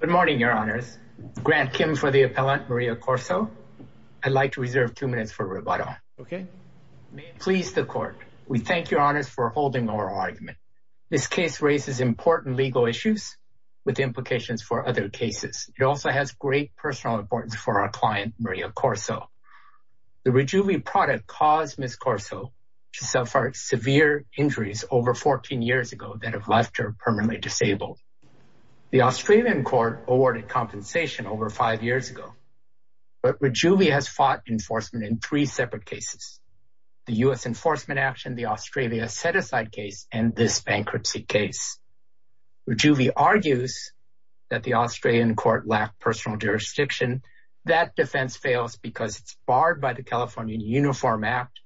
Good morning, your honors. Grant Kim for the appellant, Maria Corso. I'd like to reserve two minutes for rebuttal, okay? May it please the court, we thank your honors for holding our argument. This case raises important legal issues with implications for other cases. It also has great personal importance for our client, Maria Corso. The Rejuvi product caused Ms. Corso to suffer severe injuries over 14 years ago that have left her permanently disabled. The Australian court awarded compensation over five years ago, but Rejuvi has fought enforcement in three separate cases. The US enforcement action, the Australia set-aside case, and this bankruptcy case. Rejuvi argues that the Australian court lacked personal jurisdiction. That defense fails because it's barred by the California Uniform Act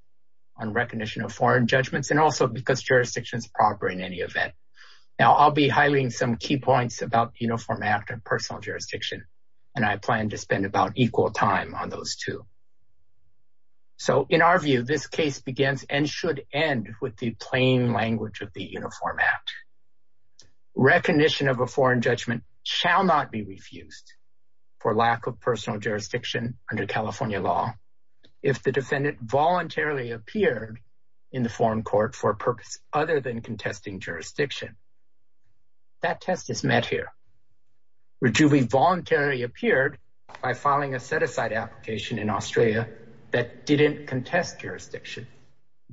on recognition of foreign judgments, and also because jurisdiction is proper in any event. Now, I'll be highlighting some key points about the Uniform Act and personal jurisdiction, and I plan to spend about equal time on those two. So, in our view, this case begins and should end with the plain language of the Uniform Act. Recognition of a foreign judgment shall not be refused for lack of personal jurisdiction under law if the defendant voluntarily appeared in the foreign court for a purpose other than contesting jurisdiction. That test is met here. Rejuvi voluntarily appeared by filing a set-aside application in Australia that didn't contest jurisdiction.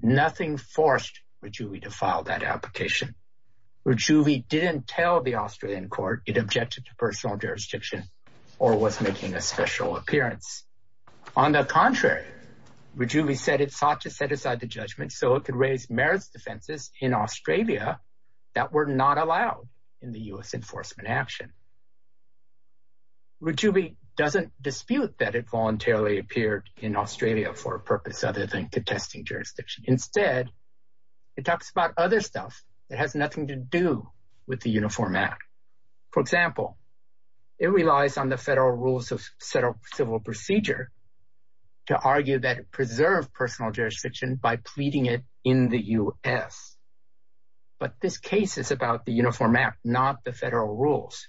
Nothing forced Rejuvi to file that application. Rejuvi didn't tell the Australian court it objected to personal jurisdiction or was making a special appearance. On the contrary, Rejuvi said it sought to set aside the judgment so it could raise merits defenses in Australia that were not allowed in the US enforcement action. Rejuvi doesn't dispute that it voluntarily appeared in Australia for a purpose other than contesting jurisdiction. Instead, it talks about other stuff that has nothing to do with the Uniform Act. For example, it relies on the federal rules of civil procedure to argue that it preserved personal jurisdiction by pleading it in the US. But this case is about the Uniform Act, not the federal rules.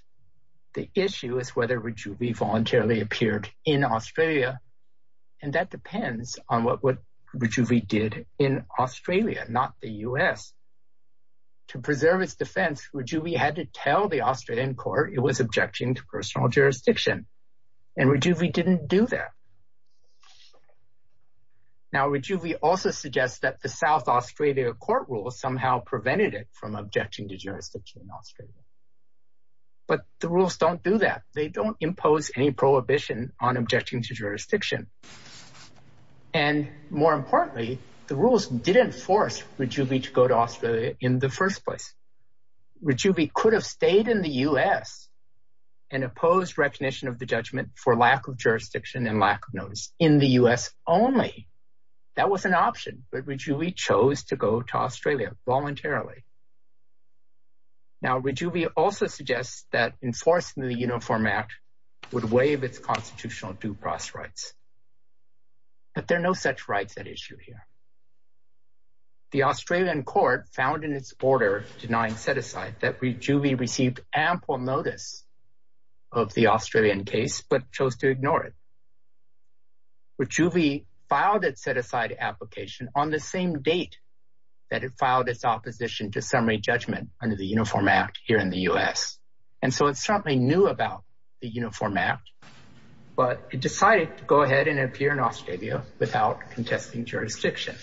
The issue is whether Rejuvi voluntarily appeared in Australia, and that depends on what Rejuvi did in Australia, not the US. To preserve its defense, Rejuvi had to tell the Australian court it was objecting to personal jurisdiction. And Rejuvi didn't do that. Now, Rejuvi also suggests that the South Australia court rule somehow prevented it from objecting to jurisdiction in Australia. But the rules don't do that. They don't impose any prohibition on objecting to jurisdiction. And more importantly, the rules didn't force Rejuvi to go to Australia in the first place. Rejuvi could have stayed in the US and opposed recognition of the judgment for lack of jurisdiction and lack of notice in the US only. That was an option, but Rejuvi chose to go to Australia voluntarily. Now, Rejuvi also suggests that enforcing the Uniform Act would waive its constitutional due process rights. But there are no such rights at issue here. The Australian court found in its order denying set-aside that Rejuvi received ample notice of the Australian case, but chose to ignore it. Rejuvi filed its set-aside application on the same date that it filed its opposition to summary judgment under the Uniform Act here in the US. And so it certainly knew about the Uniform Act, but it decided to go ahead and appear in Australia without contesting jurisdiction.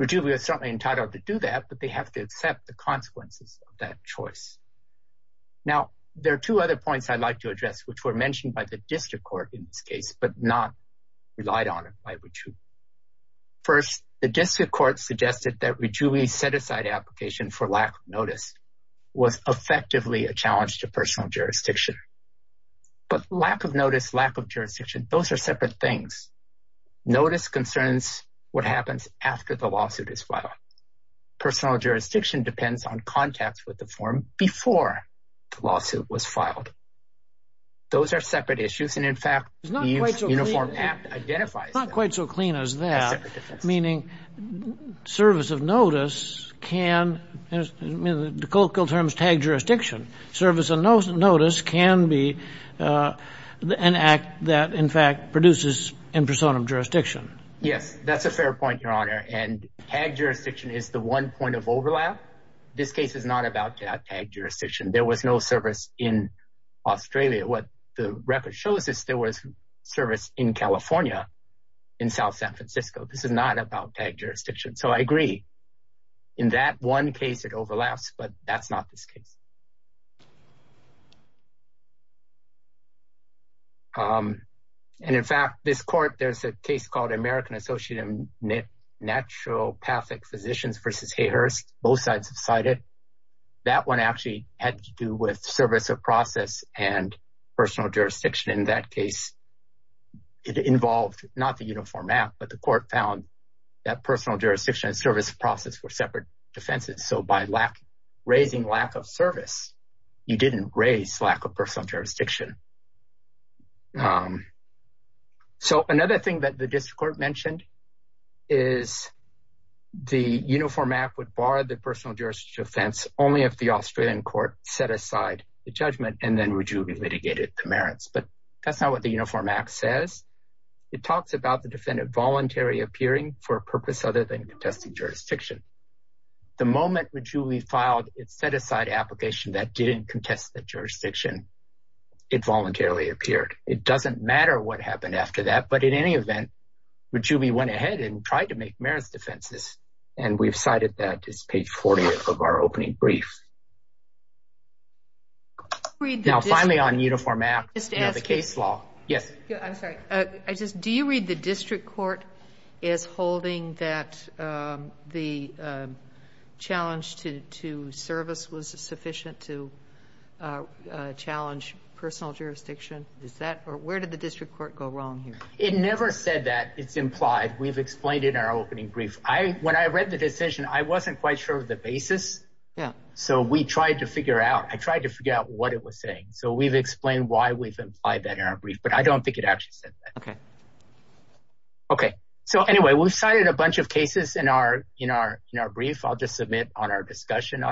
Rejuvi was certainly entitled to do that, but they have to accept the consequences of that choice. Now, there are two other points I'd like to address, which were mentioned by the district court in this case, but not relied on by Rejuvi. First, the district court suggested that Rejuvi set-aside application for lack of notice was effectively a challenge to personal jurisdiction. But lack of notice, lack of jurisdiction, those are separate things. Notice concerns what happens after the lawsuit is filed. Personal jurisdiction depends on contacts with the firm before the lawsuit was filed. Those are separate issues. And in fact, the Uniform Act not quite so clean as that, meaning service of notice can, I mean, the colloquial term is tag jurisdiction. Service of notice can be an act that in fact produces impersonal jurisdiction. Yes, that's a fair point, Your Honor. And tag jurisdiction is the one point of overlap. This case is not about that tag jurisdiction. There was no service in Australia. What the California in South San Francisco, this is not about tag jurisdiction. So I agree. In that one case, it overlaps, but that's not this case. And in fact, this court, there's a case called American Associated Naturopathic Physicians versus Hayhurst. Both sides have cited. That one actually had to do with service of process and personal jurisdiction. In that case, it involved not the Uniform Act, but the court found that personal jurisdiction and service process were separate defenses. So by raising lack of service, you didn't raise lack of personal jurisdiction. So another thing that the district court mentioned is the Uniform Act would bar the personal jurisdiction offense only if the Australian court set aside the judgment and Rujubi litigated the merits. But that's not what the Uniform Act says. It talks about the defendant voluntarily appearing for a purpose other than contesting jurisdiction. The moment Rujubi filed its set-aside application that didn't contest the jurisdiction, it voluntarily appeared. It doesn't matter what happened after that. But in any event, Rujubi went ahead and tried to make merits and we've cited that as page 40 of our opening brief. Now finally on Uniform Act, the case law. Yes. I'm sorry. Do you read the district court as holding that the challenge to service was sufficient to challenge personal jurisdiction? Where did the district court go wrong here? It never said that. It's implied. We've explained in our opening brief. When I read the decision, I wasn't quite sure of the basis. So we tried to figure out. I tried to figure out what it was saying. So we've explained why we've implied that in our brief, but I don't think it actually said that. Okay. So anyway, we've cited a bunch of cases in our brief. I'll just submit on our discussion.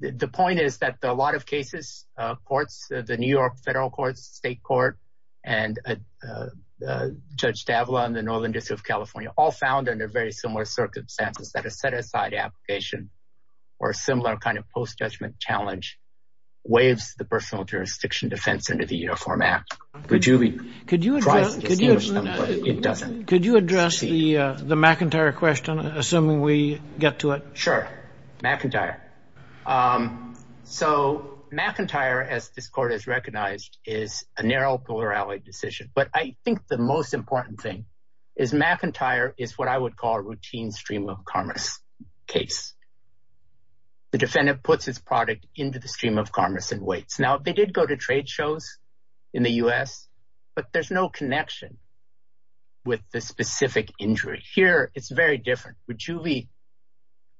The point is that a lot of cases, the New York federal courts, state court, and Judge D'Avila in the Northern District of California, all found under very similar circumstances that a set-aside application or a similar kind of post-judgment challenge waives the personal jurisdiction defense into the Uniform Act. Rujubi, could you address the McIntyre question, assuming we get to it? Sure. McIntyre. So McIntyre, as this court has recognized, is a narrow polar-allied decision. But I think the most important thing is McIntyre is what I would call a routine stream-of-commerce case. The defendant puts his product into the stream-of-commerce and waits. Now, they did go to trade shows in the U.S., but there's no connection with the specific injury. Here, it's very different. Rujubi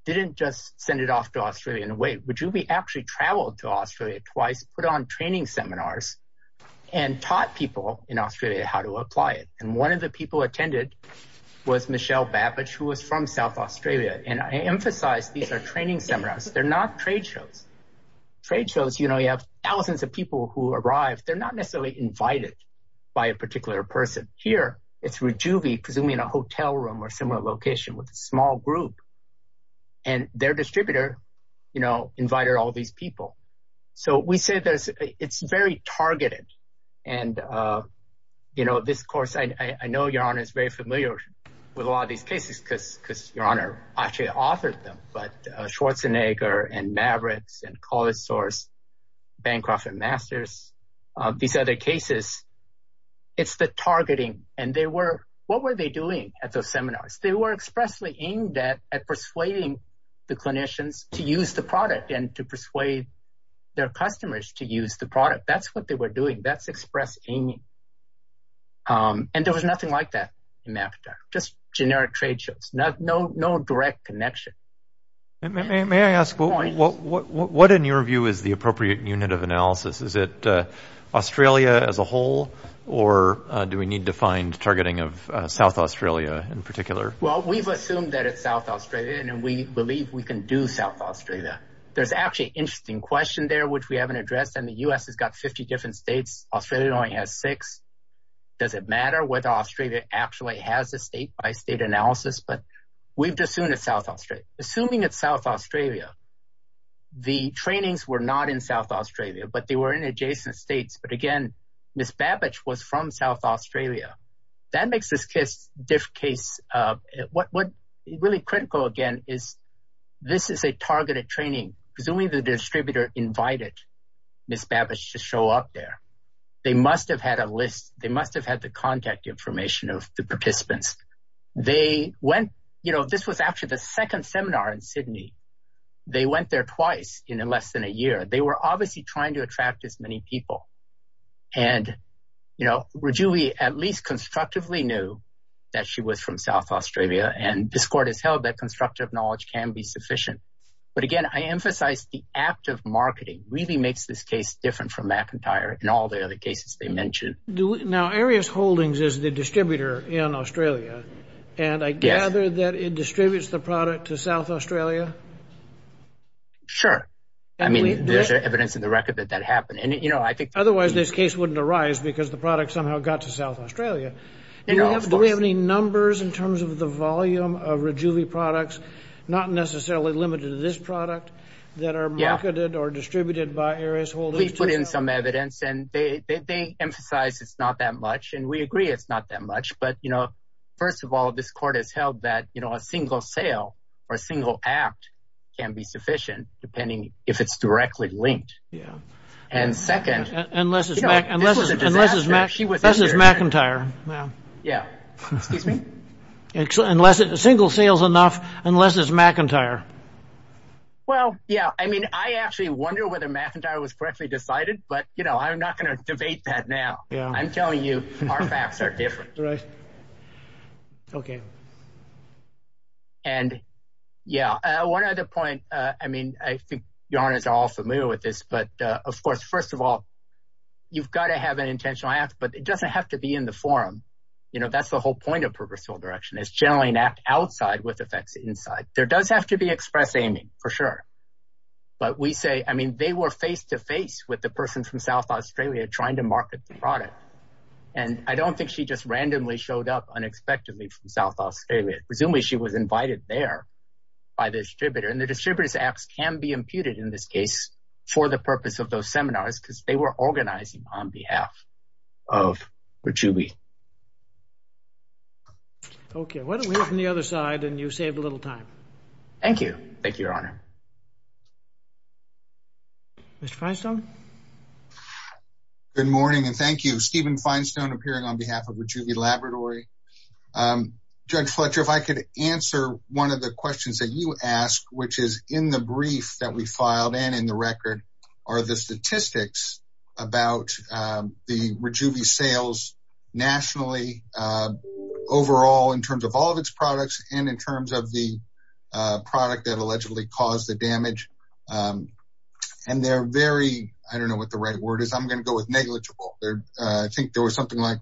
didn't just send it off to Australia and wait. Rujubi actually traveled to Australia twice, put on training seminars, and taught people in Australia how to apply it. And one of the people attended was Michelle Babbage, who was from South Australia. And I emphasize these are training seminars. They're not trade shows. Trade shows, you have thousands of people who arrive. They're not necessarily invited by a particular person. Here, it's Rujubi, presumably in a hotel room or similar location with a small group. And their distributor invited all these people. So we say it's very targeted. And this course, I know Your Honor is very familiar with a lot of these cases because Your Honor actually authored them. But Schwarzenegger and Mavericks and College Source, Bancroft and Masters, these other cases, it's the targeting. And what were they doing at those seminars? They were expressly aimed at persuading the clinicians to use the product and to persuade their customers to use the product. That's what they were doing. That's express aiming. And there was nothing like that in Africa, just generic trade shows, no direct connection. And may I ask, what in your view is the appropriate unit of analysis? Is it Australia as a whole, or do we need to find targeting of South Australia in particular? Well, we've assumed that it's South Australia, and we believe we can do South Australia. There's actually an interesting question there, which we haven't addressed. And the U.S. has got 50 different states. Australia only has six. Does it matter whether Australia actually has a state analysis? But we've just assumed it's South Australia. Assuming it's South Australia, the trainings were not in South Australia, but they were in adjacent states. But again, Miss Babbage was from South Australia. That makes this case really critical again, is this is a targeted training. Presumably the distributor invited Miss Babbage to show up there. They must have had a list. They must have had the contact information of the participants. They went, you know, this was after the second seminar in Sydney. They went there twice in less than a year. They were obviously trying to attract as many people. And, you know, Rajuli at least constructively knew that she was from South Australia. And this court has held that constructive knowledge can be sufficient. But again, I emphasize the act of marketing really makes this case different from McIntyre and all the other cases they mentioned. Now, Aries Holdings is the distributor in Australia. And I gather that it distributes the product to South Australia. Sure. I mean, there's evidence in the record that that happened. And, you know, I think otherwise this case wouldn't arise because the product somehow got to South Australia. Do we have any numbers in terms of the volume of Rajuli products, not necessarily limited to this product that are marketed or distributed by Aries Holdings? We put in some evidence and they emphasize it's not that much. And we agree it's not that much. But, you know, first of all, this court has held that, you know, a single sale or a single act can be sufficient depending if it's directly linked. Yeah. And second, unless it's McIntyre. Yeah. Excuse me? Unless it's single sales enough, unless it's McIntyre. Well, yeah. I mean, I actually wonder whether McIntyre was correctly decided, but, you know, I'm not going to debate that now. I'm telling you, our facts are different. Right. Okay. And yeah, one other point. I mean, I think your Honours are all familiar with this. But of course, first of all, you've got to have an intentional act, but it doesn't have to be in the forum. You know, that's the whole point of purposeful direction is generally an act outside with effects inside. There does have to be express aiming for sure. But we say, I mean, they were face to face with the person from South Australia trying to market the product. And I don't think she just randomly showed up unexpectedly from South Australia. Presumably, she was invited there by the distributor. And the distributors acts can be imputed in this case for the purpose of those seminars because they were organizing on behalf of Rajubi. Okay. Why don't we go from the other side and you save a little time. Thank you. Thank you, Your Honour. Mr. Finestone. Good morning and thank you. Stephen Finestone appearing on behalf of Rajubi Laboratory. Judge Fletcher, if I could answer one of the questions that you ask, which is in the brief that we filed and in the record, are the statistics about the Rajubi sales numbers nationally overall in terms of all of its products and in terms of the product that allegedly caused the damage. And they're very, I don't know what the right word is, I'm going to go with negligible. I think there was something like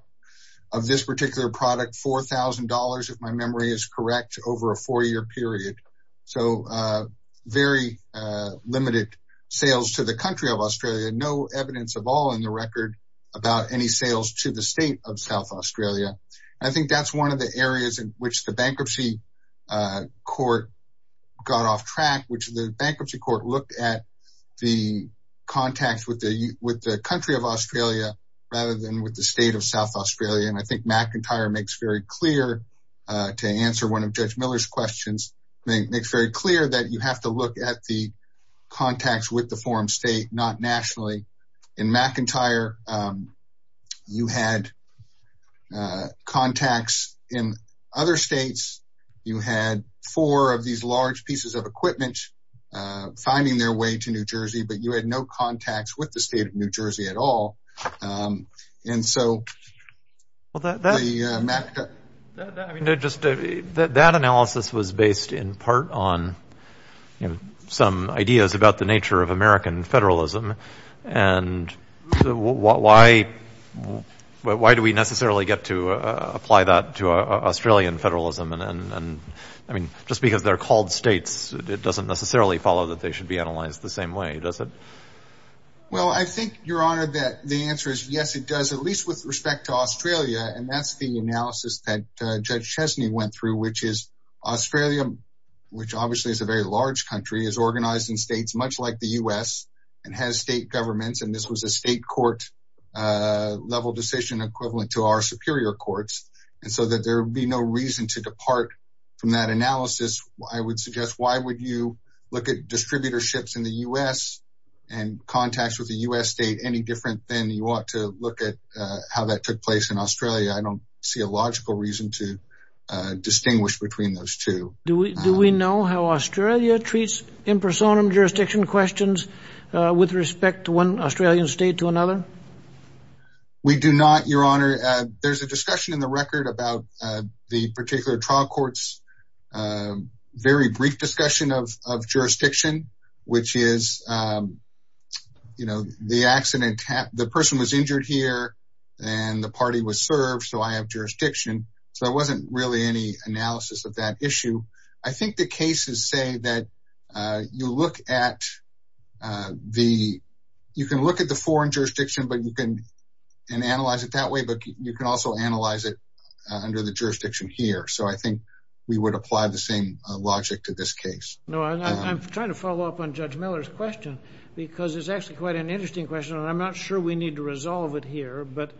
of this particular product, $4,000 if my memory is correct, over a four year period. So very limited sales to the country of Australia. I think that's one of the areas in which the bankruptcy court got off track, which the bankruptcy court looked at the contacts with the country of Australia, rather than with the state of South Australia. And I think McIntyre makes very clear, to answer one of Judge Miller's questions, makes very clear that you have to look at the contacts in other states. You had four of these large pieces of equipment finding their way to New Jersey, but you had no contacts with the state of New Jersey at all. And so, that analysis was based in part on some ideas about the nature of American federalism. And why do we necessarily get to apply that to Australian federalism? And I mean, just because they're called states, it doesn't necessarily follow that they should be analyzed the same way, does it? Well, I think, Your Honor, that the answer is yes, it does, at least with respect to Australia. And that's the analysis that Judge Chesney went through, which is Australia, which obviously is a very large country, is organized in states much like the U.S. and has state governments. And this was a state court level decision equivalent to our superior courts. And so that there would be no reason to depart from that analysis. I would suggest, why would you look at distributorships in the U.S. and contacts with the U.S. state any different than you want to look at how that took place in Australia? I don't see a logical reason to distinguish between those two. Do we know how Australia treats impersonum jurisdiction questions with respect to one Australian state to another? We do not, Your Honor. There's a discussion in the record about the particular trial court's very brief discussion of jurisdiction, which is, you know, the accident, the person was injured here, and the party was served, so I have jurisdiction. So there wasn't really any you look at the, you can look at the foreign jurisdiction, but you can analyze it that way. But you can also analyze it under the jurisdiction here. So I think we would apply the same logic to this case. No, I'm trying to follow up on Judge Miller's question, because it's actually quite an interesting question. And I'm not sure we need to resolve it here. But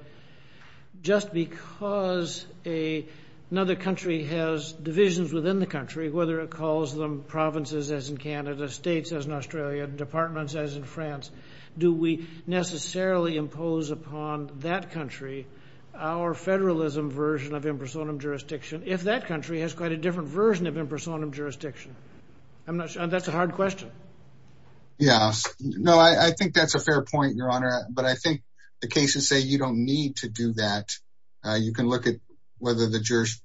just because another country has divisions within the country, whether it calls them provinces as in Canada, states as in Australia, departments as in France, do we necessarily impose upon that country our federalism version of impersonum jurisdiction if that country has quite a different version of impersonum jurisdiction? I'm not sure. That's a hard question. Yes. No, I think that's a fair point, Your Honor. But I think the cases say you don't need to do that. You can look at whether the jurors,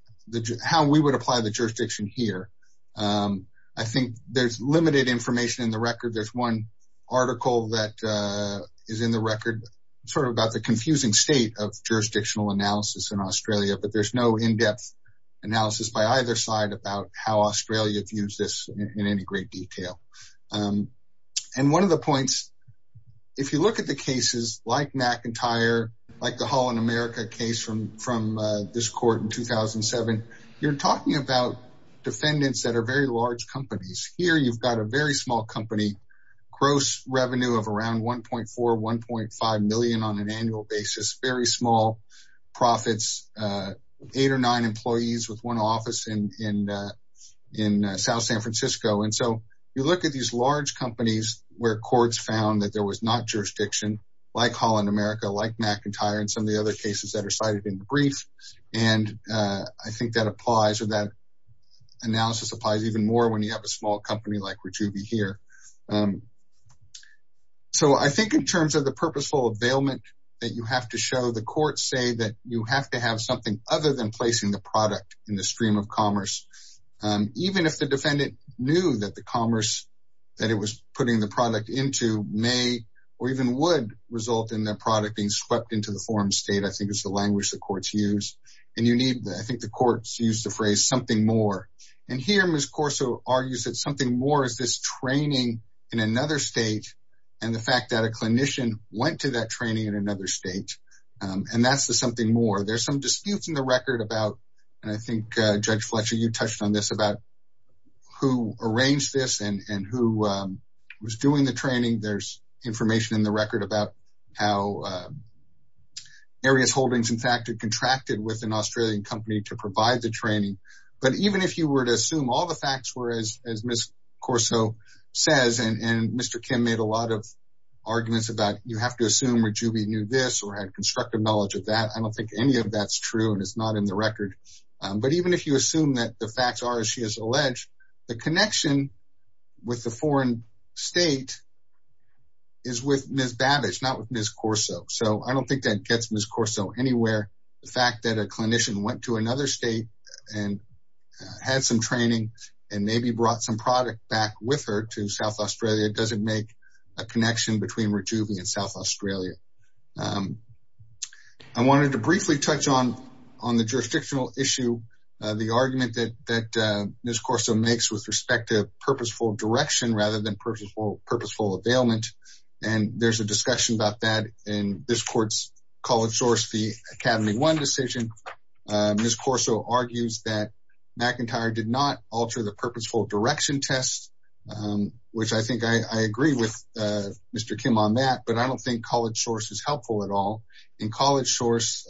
how we would apply the jurisdiction here. I think there's limited information in the record. There's one article that is in the record, sort of about the confusing state of jurisdictional analysis in Australia, but there's no in-depth analysis by either side about how Australia views this in any great detail. And one of the points, if you look at the cases like McIntyre, like the Holland America case from this court in 2007, you're talking about defendants that are very large companies. Here, you've got a very small company, gross revenue of around 1.4, 1.5 million on an annual basis, very small profits, eight or nine employees with one office in South San Francisco. And so, you look at these large companies where courts found that there was not jurisdiction, like Holland America, like McIntyre, and some of the other cases that are cited in the brief. And I think that applies or that analysis applies even more when you have a small company like that. You have to show the courts say that you have to have something other than placing the product in the stream of commerce. Even if the defendant knew that the commerce that it was putting the product into may or even would result in their product being swept into the forum state, I think it's the language that courts use. And you need, I think the courts use the phrase something more. And here, Ms. Corso argues that something more is this training in another state and the fact that a clinician went to that training in another state. And that's the something more. There's some disputes in the record about, and I think Judge Fletcher, you touched on this about who arranged this and who was doing the training. There's information in the record about how Areas Holdings in fact had contracted with an Australian company to provide the training. But even if you were to assume all the facts were as Ms. Corso says, and Mr. Kim made a lot of arguments about, you have to assume where Juby knew this or had constructive knowledge of that. I don't think any of that's true and it's not in the record. But even if you assume that the facts are as she has alleged, the connection with the foreign state is with Ms. Babbage, not with Ms. Corso. So I don't think that gets Ms. Corso anywhere. The fact that a clinician went to another state and had some training and maybe brought some product back with her to South Australia doesn't make a connection between Rejuve and South Australia. I wanted to briefly touch on the jurisdictional issue, the argument that Ms. Corso makes with respect to purposeful direction rather than purposeful availment. And there's a discussion about that in this court's College Source v. Academy One decision. Ms. Corso argues that McIntyre did not alter the purposeful direction test, which I think I agree with Mr. Kim on that, but I don't think College Source is helpful at all. In College Source,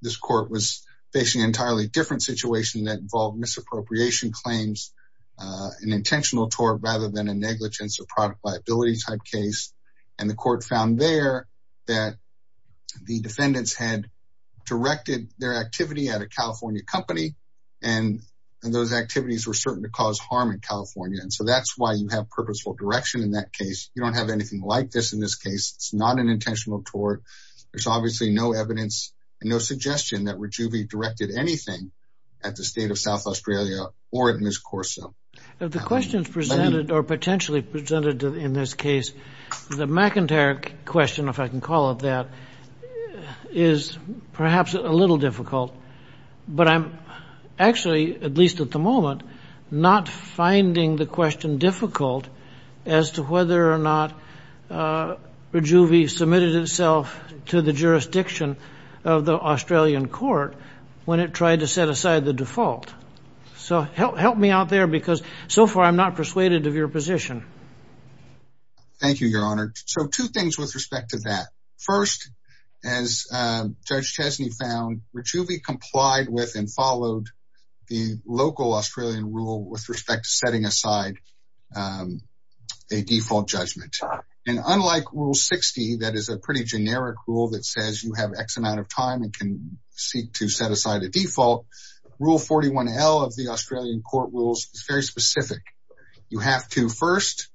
this court was facing an entirely different situation that involved misappropriation claims, an intentional tort rather than a negligence or product liability type case. And the court found there that the defendants had directed their activity at a California company, and those activities were certain to cause harm in California. And so that's why you have purposeful direction in that case. You don't have anything like this in this case. It's not an intentional tort. There's obviously no evidence and no suggestion that Rejuve directed anything at the state of South Australia or at Ms. Corso. The questions presented or potentially presented in this case, the McIntyre question, if I can call it that, is perhaps a little difficult. But I'm actually, at least at the moment, not finding the question difficult as to whether or not Rejuve submitted itself to the jurisdiction of the Australian court when it tried to set aside the default. So help me out there, because so far I'm not persuaded of your position. Thank you, Your Honor. So two things with respect to that. First, as Judge Chesney found, Rejuve complied with and followed the local Australian rule with respect to setting aside a default judgment. And unlike Rule 60, that is a pretty generic rule that says you have X amount of time and can seek to set aside a default, Rule 41L of the Australian court rules is very specific. You have to first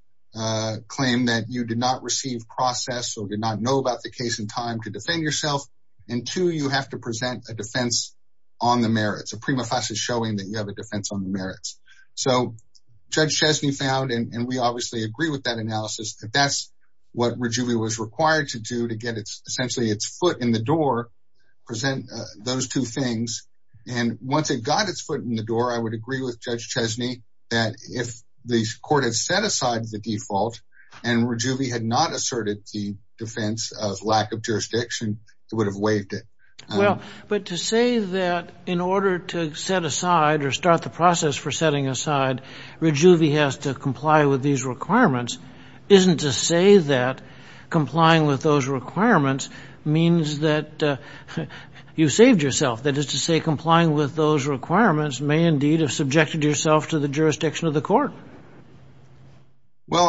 claim that you did not receive process or did not know about the case in time to defend yourself. And two, you have to present a defense on the merits. A prima facie showing that you have a defense on the merits. So Judge Chesney found, and we obviously agree with that analysis, that that's what Rejuve was required to do to get essentially its foot in the door, present those two things. And once it got its foot in the door, I would agree with Judge Chesney that if the court had set aside the default and Rejuve had not asserted the defense of lack of jurisdiction, it would have waived it. Well, but to say that in order to set aside or start the process for setting aside, Rejuve has to comply with these requirements isn't to say that complying with those requirements means that you saved yourself. That is to say, complying with those requirements may indeed have subjected yourself to the jurisdiction of the court. Well,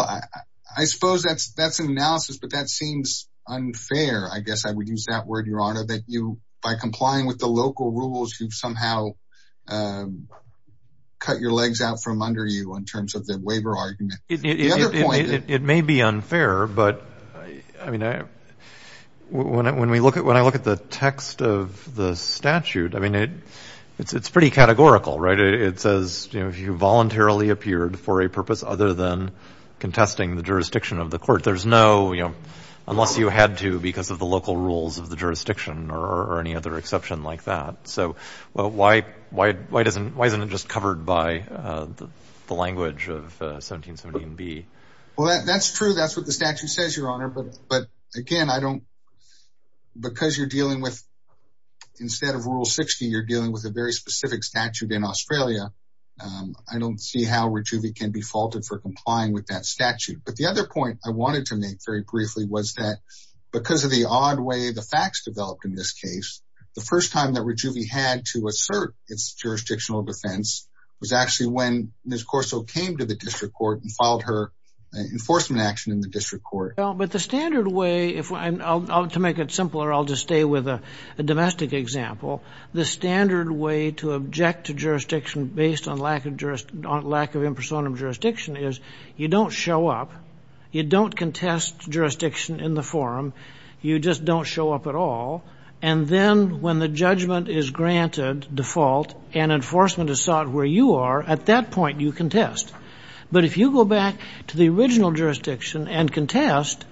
I suppose that's an analysis, but that seems unfair. I guess I would use that word, Your Honor, that you, by complying with the local rules, you've somehow cut your legs out from under you in terms of the waiver argument. It may be unfair, but I mean, when I look at the text of the statute, I mean, it's pretty categorical, right? It says, you know, if you voluntarily appeared for a purpose other than contesting the jurisdiction of the court, there's no, you know, unless you had to because of the local rules of the jurisdiction or any other exception like that. So why isn't it just covered by the language of 1770 and B? Well, that's true. That's what the statute says, Your Honor. But again, I don't, because you're dealing with, instead of Rule 60, you're dealing with a very specific statute in Australia. I don't see how we can be faulted for complying with that statute. But the other point I wanted to make very briefly was that because of the odd way the facts developed in this case, the first time that we had to assert its jurisdictional defense was actually when Ms. Corso came to the district court and filed her enforcement action in the district court. But the standard way, to make it simpler, I'll just stay with a domestic example. The standard way to object to jurisdiction based on lack of impersonum jurisdiction is you don't show up, you don't contest jurisdiction in the forum, you just don't show up at all. And then when the judgment is granted default and enforcement is sought where you are, at that point you contest. But if you go back to the original jurisdiction and contest,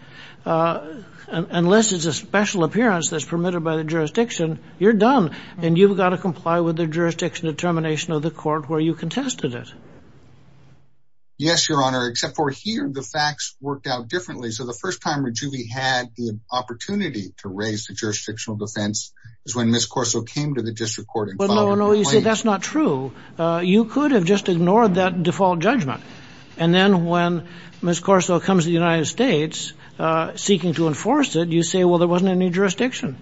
unless it's a special appearance that's permitted by the jurisdiction, you're done. And you've got to comply with the jurisdiction determination of the court where you contested it. Yes, Your Honor, except for here, the facts worked out differently. So the first time that we had the opportunity to raise the jurisdictional defense is when Ms. Corso came to the district court and filed a complaint. No, no, you see, that's not true. You could have just ignored that default judgment. And then when Ms. Corso comes to the United States seeking to enforce it, you say, well, there wasn't any jurisdiction.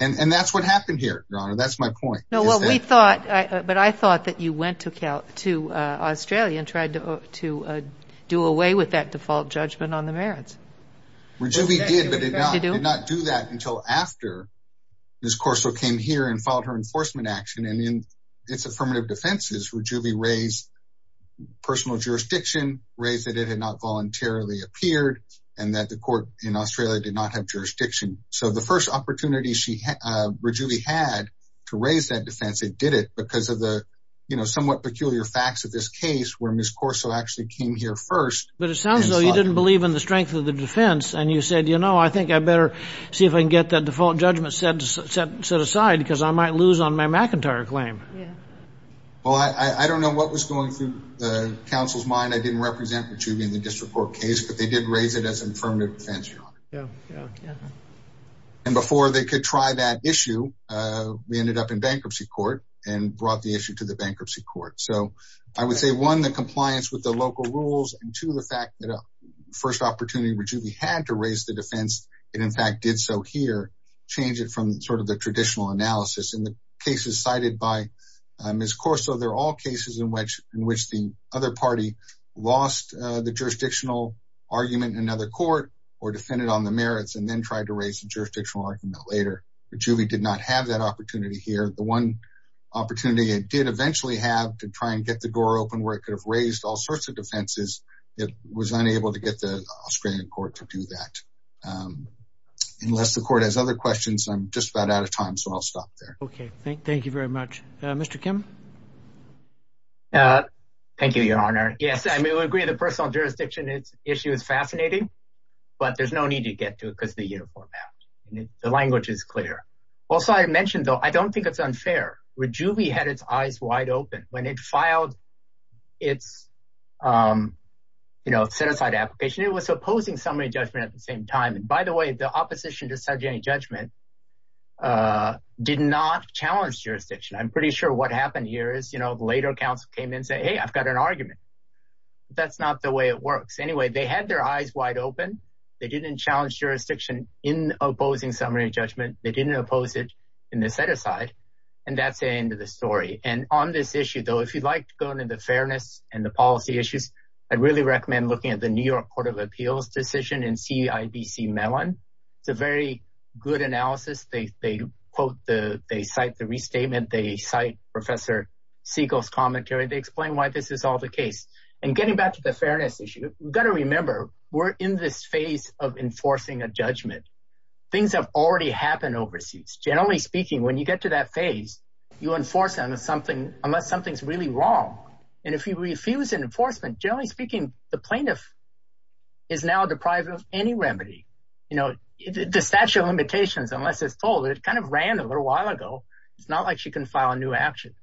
And that's what happened here, Your Honor, that's my point. No, well, we thought, but I thought that you went to Australia and tried to do away with that default judgment on the merits. We did, but did not do that until after Ms. Corso came here and filed her enforcement action. And in its affirmative defenses, Rajuvi raised personal jurisdiction, raised that it had not voluntarily appeared, and that the court in Australia did not have jurisdiction. So the first opportunity Rajuvi had to raise that defense, it did it because of the somewhat peculiar facts of this case where Ms. Corso actually came here first. But it sounds as though you didn't believe in the strength of the defense. And you said, you know, I think I better see if I can get that default judgment set aside because I might lose on my McIntyre claim. Well, I don't know what was going through the counsel's mind. I didn't represent Rajuvi in the district court case, but they did raise it as an affirmative defense, Your Honor. And before they could try that issue, we ended up in bankruptcy court and brought the issue to the bankruptcy court. So I would say, one, the compliance with the local rules, and two, the change it from sort of the traditional analysis. In the cases cited by Ms. Corso, they're all cases in which the other party lost the jurisdictional argument in another court or defended on the merits and then tried to raise the jurisdictional argument later. Rajuvi did not have that opportunity here. The one opportunity it did eventually have to try and get the door open where it could have raised all sorts of defenses, it was unable to get the Australian court to do that. Unless the court has other questions, I'm just about out of time, so I'll stop there. Okay, thank you very much. Mr. Kim? Thank you, Your Honor. Yes, I mean, we agree the personal jurisdiction issue is fascinating, but there's no need to get to it because of the uniform act. The language is clear. Also, I mentioned, though, I don't think it's unfair. Rajuvi had its eyes wide open when it filed its set-aside application. It was opposing summary judgment at the same time. And by the way, the opposition to subjecting judgment did not challenge jurisdiction. I'm pretty sure what happened here is the later counsel came in and said, hey, I've got an argument. That's not the way it works. Anyway, they had their eyes wide open. They didn't challenge jurisdiction in opposing summary judgment. They didn't oppose it in the set-aside. And that's the end of the story. And on this issue, though, if you'd like to go into fairness and the policy issues, I'd really recommend looking at the New York Court of Appeals decision in CIDC Mellon. It's a very good analysis. They cite the restatement. They cite Professor Siegel's commentary. They explain why this is all the case. And getting back to the fairness issue, you've got to remember we're in this phase of enforcing a judgment. Things have already happened overseas. Generally speaking, when you get to that phase, you enforce them unless something's really wrong. And if you refuse an enforcement, generally speaking, the plaintiff is now deprived of any remedy. The statute of limitations, unless it's told, it kind of ran a little while ago. It's not like she can file a new action.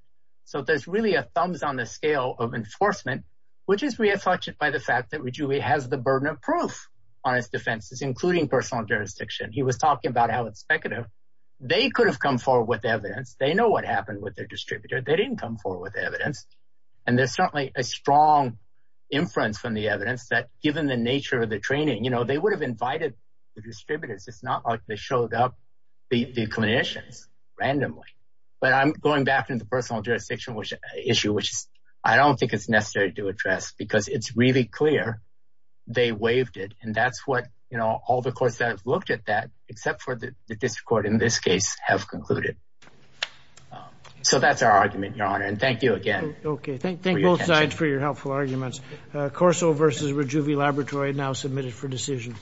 So there's really a thumbs on the scale of enforcement, which is reaffirmed by the fact that Ruggieri has the burden of proof on his defenses, including personal jurisdiction. He was talking about how it's speculative. They could have come forward with evidence. They know what happened with their distributor. They didn't come forward with evidence. And there's certainly a strong inference from the evidence that given the nature of the training, they would have invited the distributors. It's not like they showed up the clinicians randomly. But I'm going back to the personal jurisdiction issue, which I don't think is necessary to address because it's really clear they waived it. And that's what all the courts that have concluded. So that's our argument, Your Honor. And thank you again. Okay. Thank you both sides for your helpful arguments. Corso versus Rejuve Laboratory now submitted for decision.